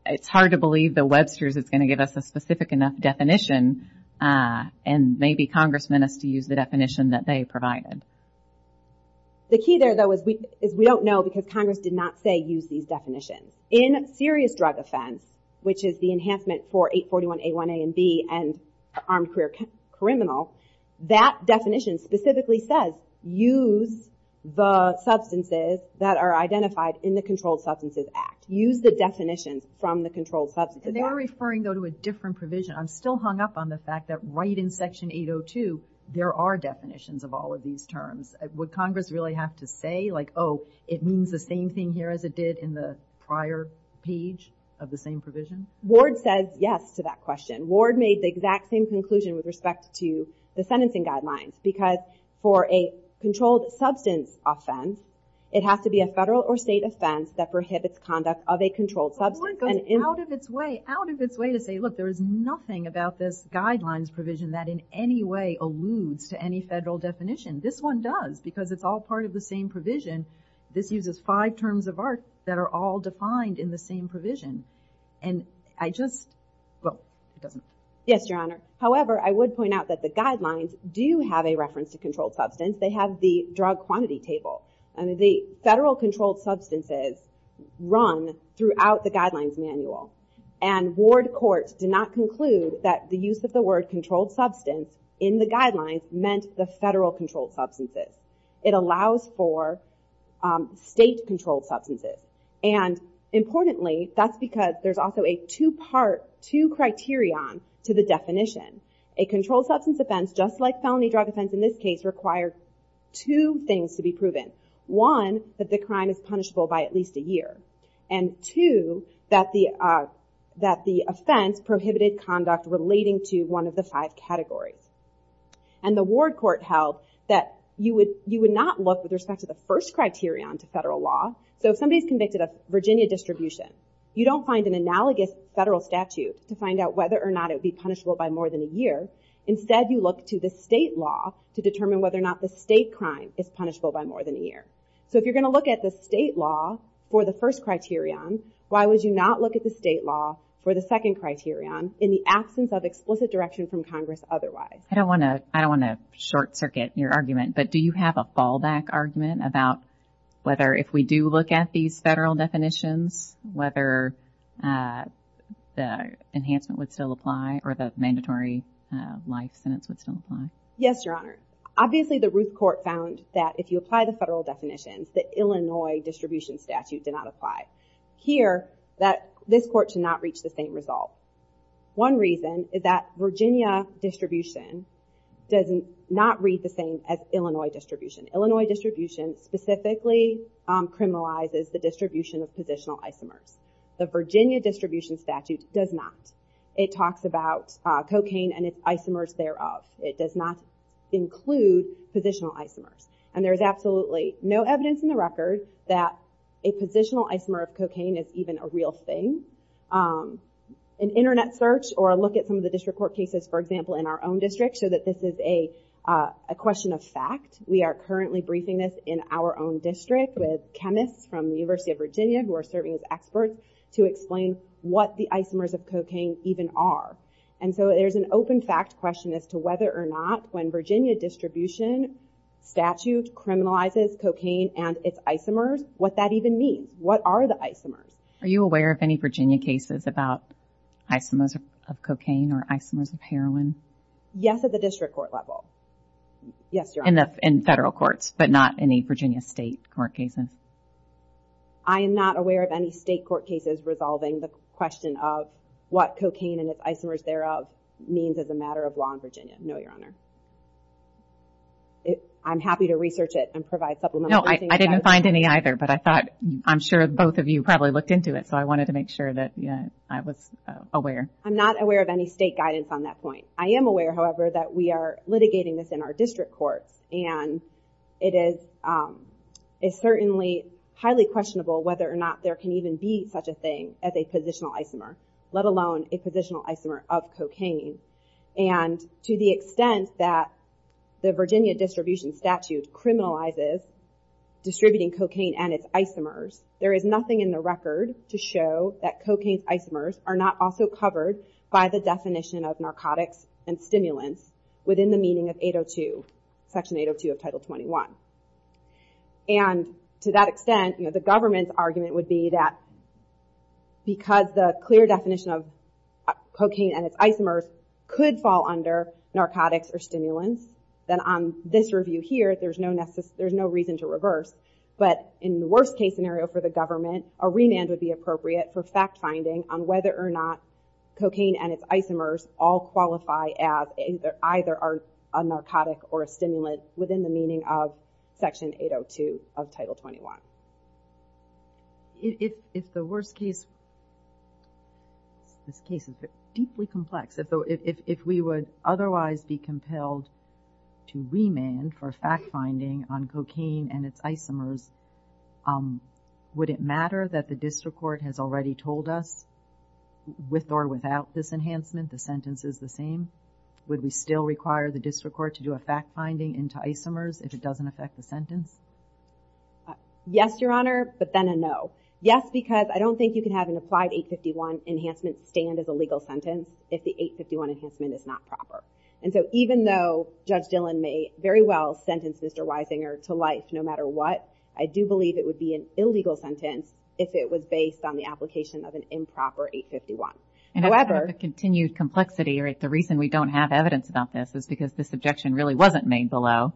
It's hard to believe that Webster's is going to give us a specific enough definition, and maybe Congress meant us to use the definition that they provided. The key there, though, is we don't know because Congress did not say use these definitions. In serious drug offense, which is the enhancement for 841A1A and B and armed career criminal, that definition specifically says use the substances that are identified in the Controlled Substances Act. Use the definitions from the Controlled Substances Act. And they're referring, though, to a different provision. I'm still hung up on the fact that right in Section 802, there are definitions of all of these terms. Would Congress really have to say, like, oh, it means the same thing here as it did in the prior page of the same provision? Ward says yes to that question. Ward made the exact same conclusion with respect to the sentencing guidelines because for a controlled substance offense, it has to be a federal or state offense that prohibits conduct of a controlled substance. But Ward goes out of its way, out of its way to say, look, there is nothing about this guidelines provision that in any way alludes to any federal definition. This one does because it's all part of the same provision. This uses five terms of art that are all defined in the same provision. And I just, well, it doesn't. Yes, Your Honor. However, I would point out that the guidelines do have a reference to controlled substance. They have the drug quantity table. And the federal controlled substances run throughout the guidelines manual. And Ward courts did not conclude that the use of the word controlled substance in the guidelines meant the federal controlled substances. It allows for state controlled substances. And importantly, that's because there's also a two-part, two criterion to the definition. A controlled substance offense, just like felony drug offense in this case, required two things to be proven. One, that the crime is punishable by at least a year. And two, that the offense prohibited conduct relating to one of the five categories. And the Ward court held that you would not look with respect to the first criterion to federal law. So if somebody's convicted of Virginia distribution, you don't find an analogous federal statute to find out whether or not it would be punishable by more than a year. Instead, you look to the state law to determine whether or not the state crime is punishable by more than a year. So if you're going to look at the state law for the first criterion, why would you not look at the state law for the second criterion in the absence of explicit direction from Congress otherwise? I don't want to short circuit your argument, but do you have a fallback argument about whether if we do look at these federal definitions, whether the enhancement would still apply or the mandatory life sentence would still apply? Yes, Your Honor. Obviously, the Ruth court found that if you apply the federal definitions, the Illinois distribution statute did not apply. Here, this court should not reach the same result. One reason is that Virginia distribution does not read the same as Illinois distribution. Illinois distribution specifically criminalizes the distribution of positional isomers. The Virginia distribution statute does not. It talks about cocaine and its isomers thereof. It does not include positional isomers. And there is absolutely no evidence in the record that a positional isomer of cocaine is even a real thing. An internet search or a look at some of the district court cases, for example, in our own district, show that this is a question of fact. We are currently briefing this in our own district with chemists from the University of Virginia who are serving as experts to explain what the isomers of cocaine even are. And so there's an open fact question as to whether or not when Virginia distribution statute criminalizes cocaine and its isomers, what that even means. What are the isomers? Are you aware of any Virginia cases about isomers of cocaine or isomers of heroin? Yes, at the district court level. Yes, Your Honor. In federal courts, but not any Virginia state court cases. I am not aware of any state court cases resolving the question of what cocaine and its isomers thereof means as a matter of law in Virginia. No, Your Honor. I'm happy to research it and provide supplementary things. No, I didn't find any either, but I thought I'm sure both of you probably looked into it, so I wanted to make sure that I was aware. I'm not aware of any state guidance on that point. I am aware, however, that we are litigating this in our district courts, and it is certainly highly questionable whether or not there can even be such a thing as a positional isomer, let alone a positional isomer of cocaine. And to the extent that the Virginia distribution statute criminalizes distributing cocaine and its isomers, there is nothing in the record to show that cocaine's isomers are not also covered by the definition of narcotics and stimulants within the meaning of Section 802 of Title 21. And to that extent, the government's argument would be that because the clear definition of cocaine and its isomers could fall under narcotics or stimulants, then on this review here, there's no reason to reverse. But in the worst-case scenario for the government, a remand would be appropriate for fact-finding on whether or not cocaine and its isomers all qualify as either a narcotic or a stimulant within the meaning of Section 802 of Title 21. If the worst-case... This case is deeply complex. If we would otherwise be compelled to remand for fact-finding on cocaine and its isomers, would it matter that the district court has already told us with or without this enhancement the sentence is the same? Would we still require the district court to do a fact-finding into isomers if it doesn't affect the sentence? Yes, Your Honor, but then a no. Yes, because I don't think you can have an applied 851 enhancement stand as a legal sentence if the 851 enhancement is not proper. And so even though Judge Dillon may very well sentence Mr. Weisinger to life no matter what, I do believe it would be an illegal sentence if it was based on the application of an improper 851. However... And I have a continued complexity. The reason we don't have evidence about this is because this objection really wasn't made below.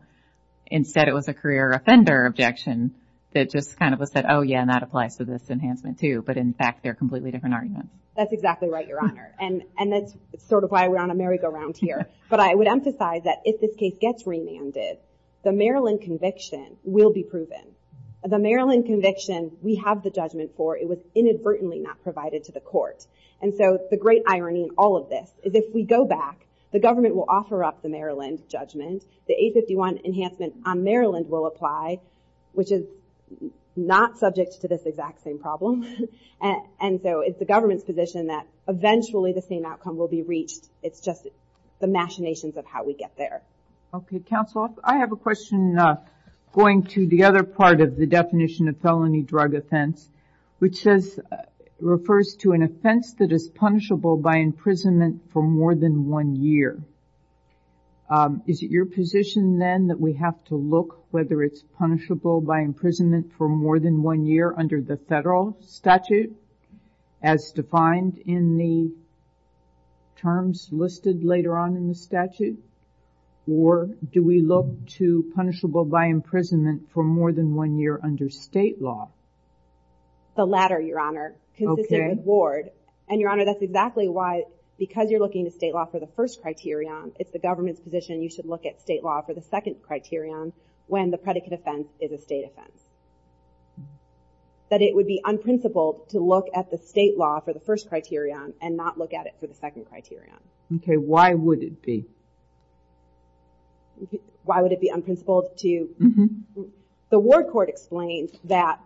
Instead, it was a career offender objection that just kind of was said, oh, yeah, and that applies to this enhancement, too. But in fact, they're completely different arguments. That's exactly right, Your Honor. And that's sort of why we're on a merry-go-round here. But I would emphasize that if this case gets remanded, the Maryland conviction will be proven. The Maryland conviction we have the judgment for. It was inadvertently not provided to the court. And so the great irony in all of this is if we go back, the government will offer up the Maryland judgment. The 851 enhancement on Maryland will apply, which is not subject to this exact same problem. And so it's the government's position that eventually the same outcome will be reached. It's just the machinations of how we get there. Okay, counsel. I have a question going to the other part of the definition of felony drug offense, which refers to an offense that is punishable by imprisonment for more than one year. Is it your position, then, that we have to look whether it's punishable by imprisonment for more than one year under the federal statute as defined in the terms listed later on in the statute? Or do we look to punishable by imprisonment for more than one year under state law? The latter, Your Honor, consistent with Ward. And, Your Honor, that's exactly why, because you're looking to state law for the first criterion, it's the government's position you should look at state law for the second criterion when the predicate offense is a state offense. That it would be unprincipled to look at the state law for the first criterion and not look at it for the second criterion. Okay, why would it be? Why would it be unprincipled to... The Ward court explained that...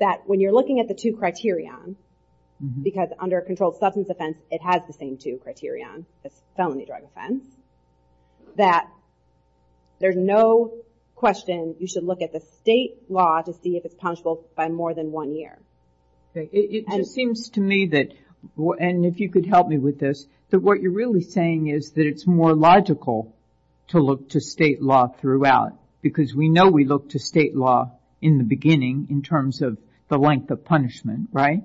That when you're looking at the two criterion, because under a controlled substance offense it has the same two criterion as felony drug offense, that there's no question you should look at the state law to see if it's punishable by more than one year. It just seems to me that... And if you could help me with this, that what you're really saying is that it's more logical to look to state law throughout, because we know we look to state law in the beginning in terms of the length of punishment, right?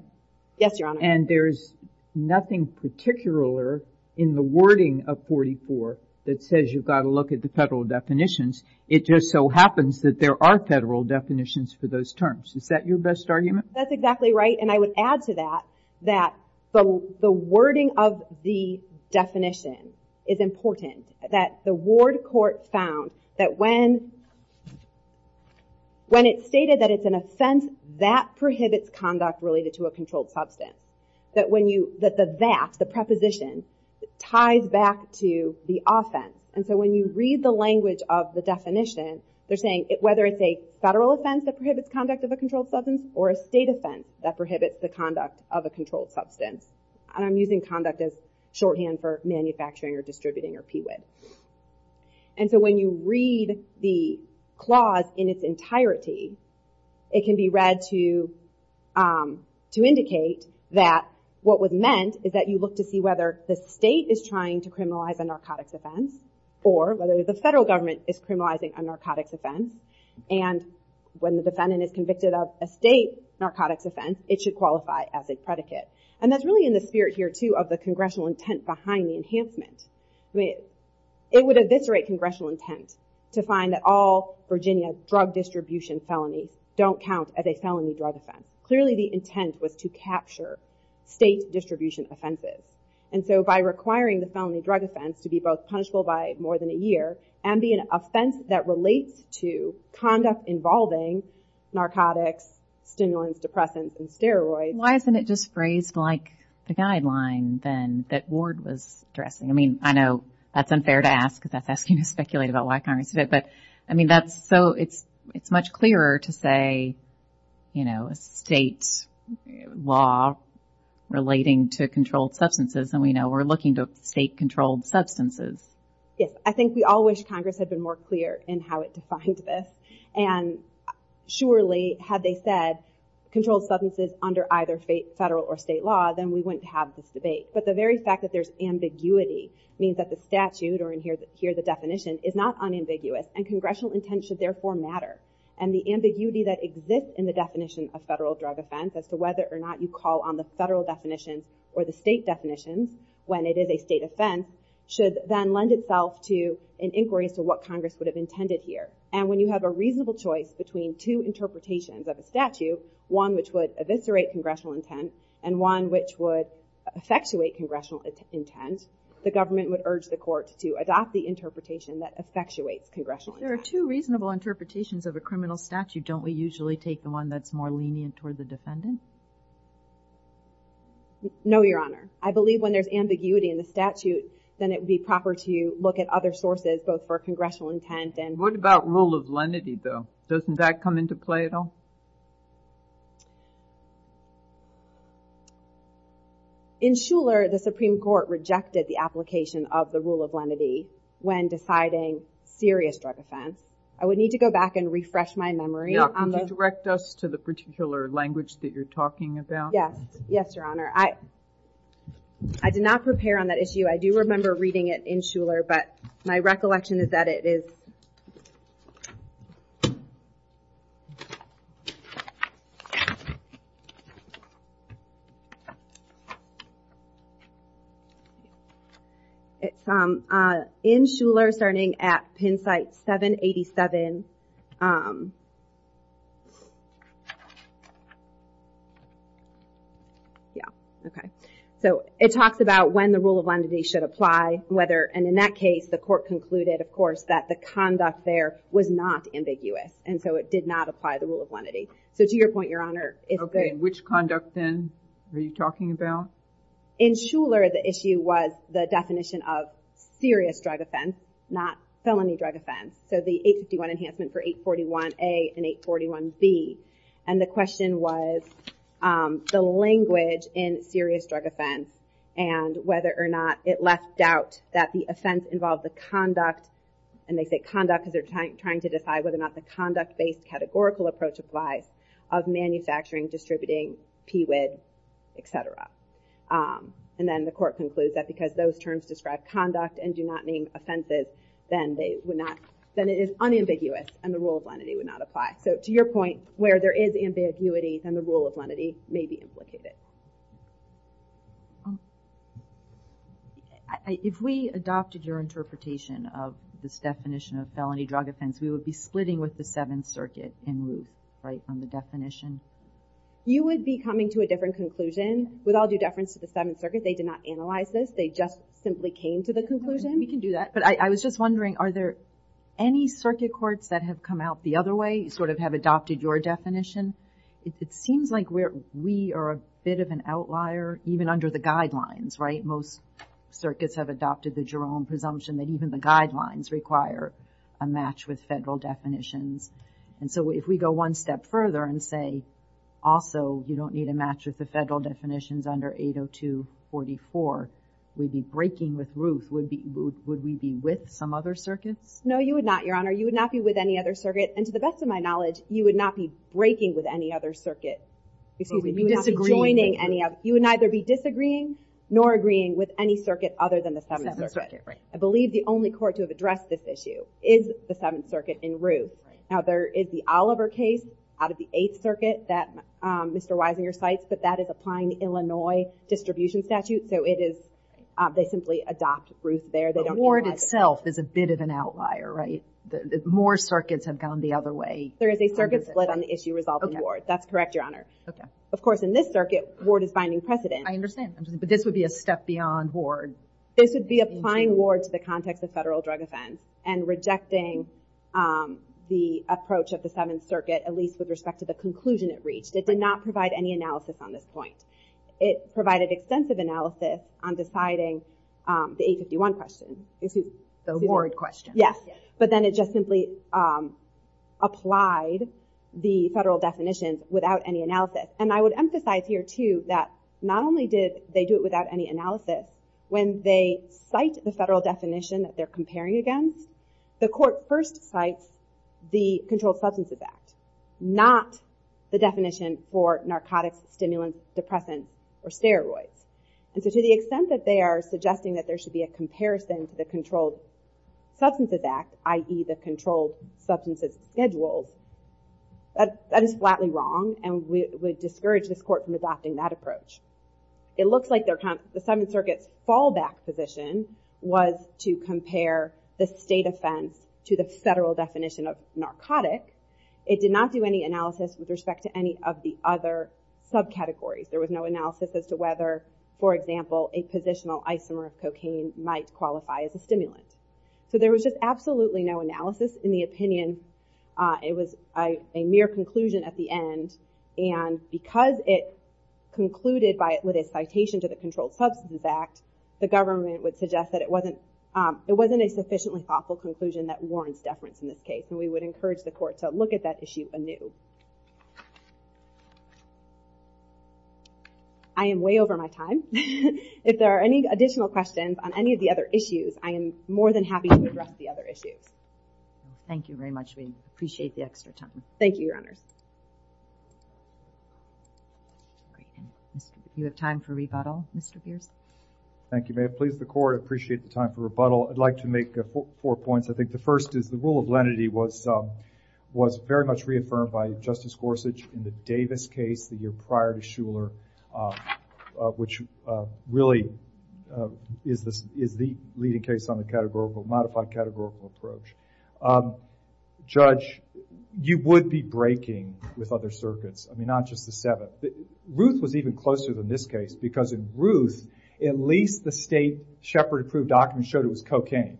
Yes, Your Honor. And there's nothing particular in the wording of 44 that says you've got to look at the federal definitions. It just so happens that there are federal definitions for those terms. Is that your best argument? That's exactly right, and I would add to that that the wording of the definition is important, that the Ward court found that when... When it's stated that it's an offense, that prohibits conduct related to a controlled substance. That the that, the preposition, ties back to the offense. And so when you read the language of the definition, they're saying whether it's a federal offense that prohibits conduct of a controlled substance or a state offense that prohibits the conduct of a controlled substance. And I'm using conduct as shorthand for manufacturing or distributing or PWID. And so when you read the clause in its entirety, it can be read to indicate that what was meant is that you look to see whether the state is trying to criminalize a narcotics offense or whether the federal government is criminalizing a narcotics offense. And when the defendant is convicted of a state narcotics offense, it should qualify as a predicate. And that's really in the spirit here, too, of the congressional intent behind the enhancement. It would eviscerate congressional intent to find that all Virginia drug distribution felonies don't count as a felony drug offense. Clearly the intent was to capture state distribution offenses. And so by requiring the felony drug offense to be both punishable by more than a year and be an offense that relates to conduct involving narcotics, stimulants, depressants, and steroids. Why isn't it just phrased like the guideline then that Ward was addressing? I mean, I know that's unfair to ask, because that's asking to speculate about why Congress did it. But, I mean, that's so... It's much clearer to say, you know, state law relating to controlled substances than we know we're looking to state controlled substances. Yes, I think we all wish Congress had been more clear in how it defined this. And surely had they said controlled substances under either federal or state law, then we wouldn't have this debate. But the very fact that there's ambiguity means that the statute, or here the definition, is not unambiguous, and congressional intent should therefore matter. And the ambiguity that exists in the definition of federal drug offense, as to whether or not you call on the federal definitions or the state definitions when it is a state offense, should then lend itself to an inquiry as to what Congress would have intended here. And when you have a reasonable choice between two interpretations of a statute, one which would eviscerate congressional intent and one which would effectuate congressional intent, the government would urge the court to adopt the interpretation that effectuates congressional intent. If there are two reasonable interpretations of a criminal statute, don't we usually take the one that's more lenient toward the defendant? No, Your Honor. I believe when there's ambiguity in the statute, then it would be proper to look at other sources, both for congressional intent and... What about rule of lenity, though? Doesn't that come into play at all? In Shuler, the Supreme Court rejected the application of the rule of lenity when deciding serious drug offense. I would need to go back and refresh my memory on the... Now, could you direct us to the particular language that you're talking about? Yes. Yes, Your Honor. I did not prepare on that issue. I do remember reading it in Shuler, but my recollection is that it is... Okay. It's in Shuler, starting at pen site 787. Yeah. Okay. So it talks about when the rule of lenity should apply, whether... was not ambiguous, and so it did not apply the rule of lenity. So to your point, Your Honor... Okay. Which conduct, then, are you talking about? In Shuler, the issue was the definition of serious drug offense, not felony drug offense. So the 851 Enhancement for 841A and 841B. And the question was the language in serious drug offense and whether or not it left doubt that the offense involved the conduct... And they say conduct because they're trying to decide whether or not the conduct-based categorical approach applies of manufacturing, distributing, PWID, et cetera. And then the court concludes that because those terms describe conduct and do not mean offenses, then it is unambiguous and the rule of lenity would not apply. So to your point, where there is ambiguity, then the rule of lenity may be implicated. If we adopted your interpretation of this definition of felony drug offense, we would be splitting with the Seventh Circuit in lieu, right, on the definition? You would be coming to a different conclusion. With all due deference to the Seventh Circuit, they did not analyze this. They just simply came to the conclusion. We can do that. But I was just wondering, are there any circuit courts that have come out the other way, sort of have adopted your definition? It seems like we are a bit of an outlier, even under the guidelines, right? Most circuits have adopted the Jerome presumption that even the guidelines require a match with federal definitions. And so if we go one step further and say, also, you don't need a match with the federal definitions under 802.44, we'd be breaking with Ruth. Would we be with some other circuits? No, you would not, Your Honor. You would not be with any other circuit. And to the best of my knowledge, you would not be breaking with any other circuit. You would not be joining any other. You would neither be disagreeing nor agreeing with any circuit other than the Seventh Circuit. Right. I believe the only court to have addressed this issue is the Seventh Circuit in Ruth. Now, there is the Oliver case out of the Eighth Circuit that Mr. Weisinger cites, but that is applying the Illinois distribution statute. So they simply adopt Ruth there. The ward itself is a bit of an outlier, right? More circuits have gone the other way. There is a circuit split on the issue resolved in Ward. That's correct, Your Honor. Of course, in this circuit, Ward is finding precedent. I understand. But this would be a step beyond Ward. This would be applying Ward to the context of federal drug offense and rejecting the approach of the Seventh Circuit, at least with respect to the conclusion it reached. It did not provide any analysis on this point. It provided extensive analysis on deciding the 851 question. The Ward question. Yes. But then it just simply applied the federal definitions without any analysis. And I would emphasize here, too, that not only did they do it without any analysis. When they cite the federal definition that they're comparing against, the court first cites the Controlled Substances Act, not the definition for narcotics, stimulants, depressants, or steroids. And so to the extent that they are suggesting that there should be a comparison to the Controlled Substances Act, i.e. the Controlled Substances Schedules, that is flatly wrong and would discourage this court from adopting that approach. It looks like the Seventh Circuit's fallback position was to compare the state offense to the federal definition of narcotic. It did not do any analysis with respect to any of the other subcategories. There was no analysis as to whether, for example, a positional isomer of cocaine might qualify as a stimulant. So there was just absolutely no analysis in the opinion. It was a mere conclusion at the end. And because it concluded with a citation to the Controlled Substances Act, the government would suggest that it wasn't a sufficiently thoughtful conclusion that warrants deference in this case. And we would encourage the court to look at that issue anew. I am way over my time. If there are any additional questions on any of the other issues, I am more than happy to address the other issues. Thank you very much. We appreciate the extra time. Thank you, Your Honors. You have time for rebuttal, Mr. Beers. Thank you, ma'am. Please, the court, appreciate the time for rebuttal. I'd like to make four points. I think the first is the rule of lenity was very much reaffirmed by Justice Gorsuch in the Davis case the year prior to Shuler, which really is the leading case on the modified categorical approach. Judge, you would be breaking with other circuits. I mean, not just the Seventh. Ruth was even closer than this case, because in Ruth, at least the state Shepard approved documents showed it was cocaine.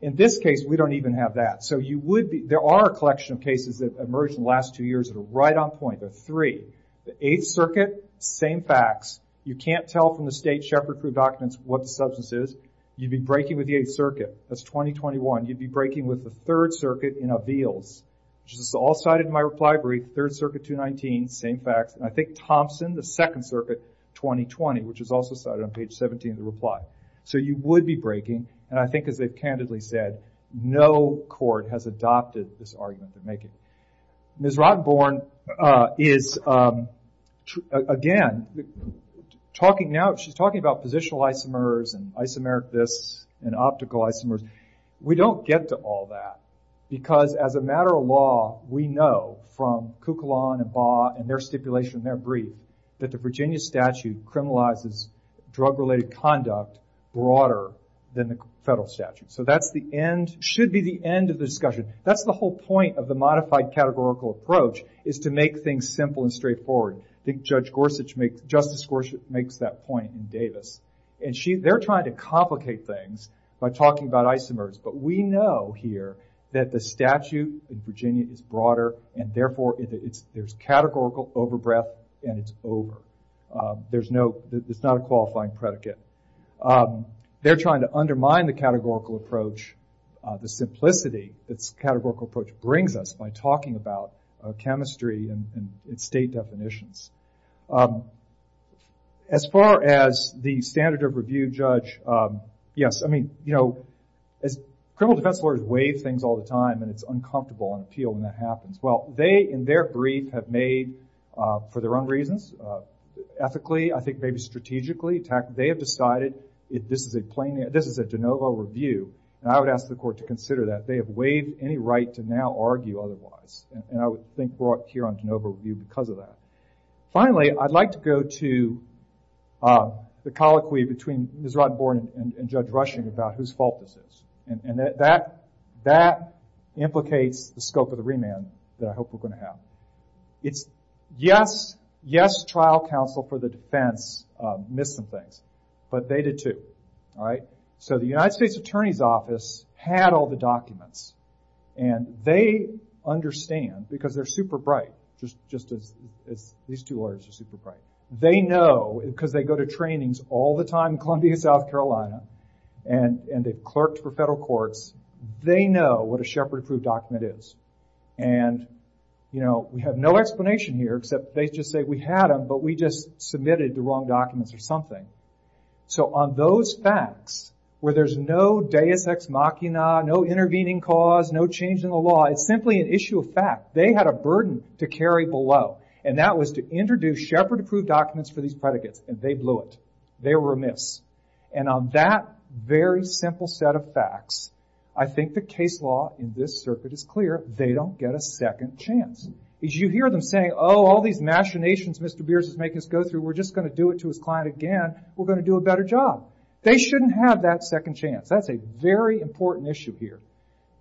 In this case, we don't even have that. So there are a collection of cases that emerged in the last two years that are right on point. There are three. The Eighth Circuit, same facts. You can't tell from the state Shepard approved documents what the substance is. You'd be breaking with the Eighth Circuit. That's 2021. You'd be breaking with the Third Circuit in Aveals, which is all cited in my reply brief. Third Circuit, 219, same facts. And I think Thompson, the Second Circuit, 2020, which is also cited on page 17 of the reply. So you would be breaking. And I think, as they've candidly said, no court has adopted this argument. Ms. Rottenborn is, again, talking now, she's talking about positional isomers and isomeric this and optical isomers. We don't get to all that because, as a matter of law, we know from Kukulon and Baugh and their stipulation in their brief that the Virginia statute criminalizes drug-related conduct broader than the federal statute. So that should be the end of the discussion. That's the whole point of the modified categorical approach is to make things simple and straightforward. I think Justice Gorsuch makes that point in Davis. And they're trying to complicate things by talking about isomers. But we know here that the statute in Virginia is broader. And therefore, there's categorical overbreath. And it's over. It's not a qualifying predicate. They're trying to undermine the categorical approach, the simplicity its categorical approach brings us by talking about chemistry and state definitions. As far as the standard of review, Judge, yes, I mean, you know, criminal defense lawyers waive things all the time. And it's uncomfortable on appeal when that happens. Well, they, in their brief, have made, for their own reasons, ethically, I think maybe strategically, they have decided this is a de novo review. And I would ask the court to consider that. They have waived any right to now argue otherwise. And I would think brought here on de novo review because of that. Finally, I'd like to go to the colloquy between Ms. Rodenborn and Judge Rushing about whose fault this is. And that implicates the scope of the remand that I hope we're going to have. Yes, trial counsel for the defense missed some things. But they did too. So the United States Attorney's Office had all the documents. And they understand, because they're super bright, just as these two lawyers are super bright. They know, because they go to trainings all the time in Columbia, South Carolina. And they've clerked for federal courts. They know what a Shepard-approved document is. And we have no explanation here, except they just say, we had them, but we just submitted the wrong documents or something. So on those facts, where there's no deus ex machina, no intervening cause, no change in the law, it's simply an issue of fact. They had a burden to carry below. And that was to introduce Shepard-approved documents for these predicates. And they blew it. They were amiss. And on that very simple set of facts, I think the case law in this circuit is clear. They don't get a second chance. Because you hear them say, oh, all these machinations Mr. Beers is making us go through, we're just going to do it to his client again. We're going to do a better job. They shouldn't have that second chance. That's a very important issue here.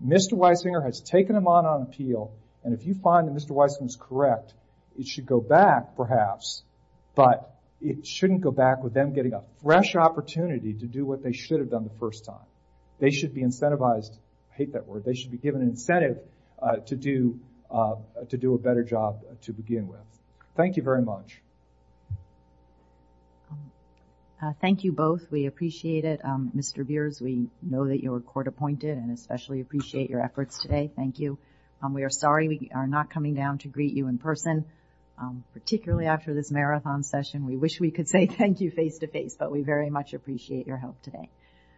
Mr. Weisinger has taken them on on appeal. And if you find that Mr. Weisinger is correct, it should go back, perhaps, but it shouldn't go back with them getting a fresh opportunity to do what they should have done the first time. They should be incentivized. I hate that word. They should be given an incentive to do a better job to begin with. Thank you very much. Thank you both. We appreciate it. Mr. Beers, we know that you were court appointed and especially appreciate your efforts today. Thank you. We are sorry we are not coming down to greet you in person, particularly after this marathon session. We wish we could say thank you face-to-face, but we very much appreciate your help today.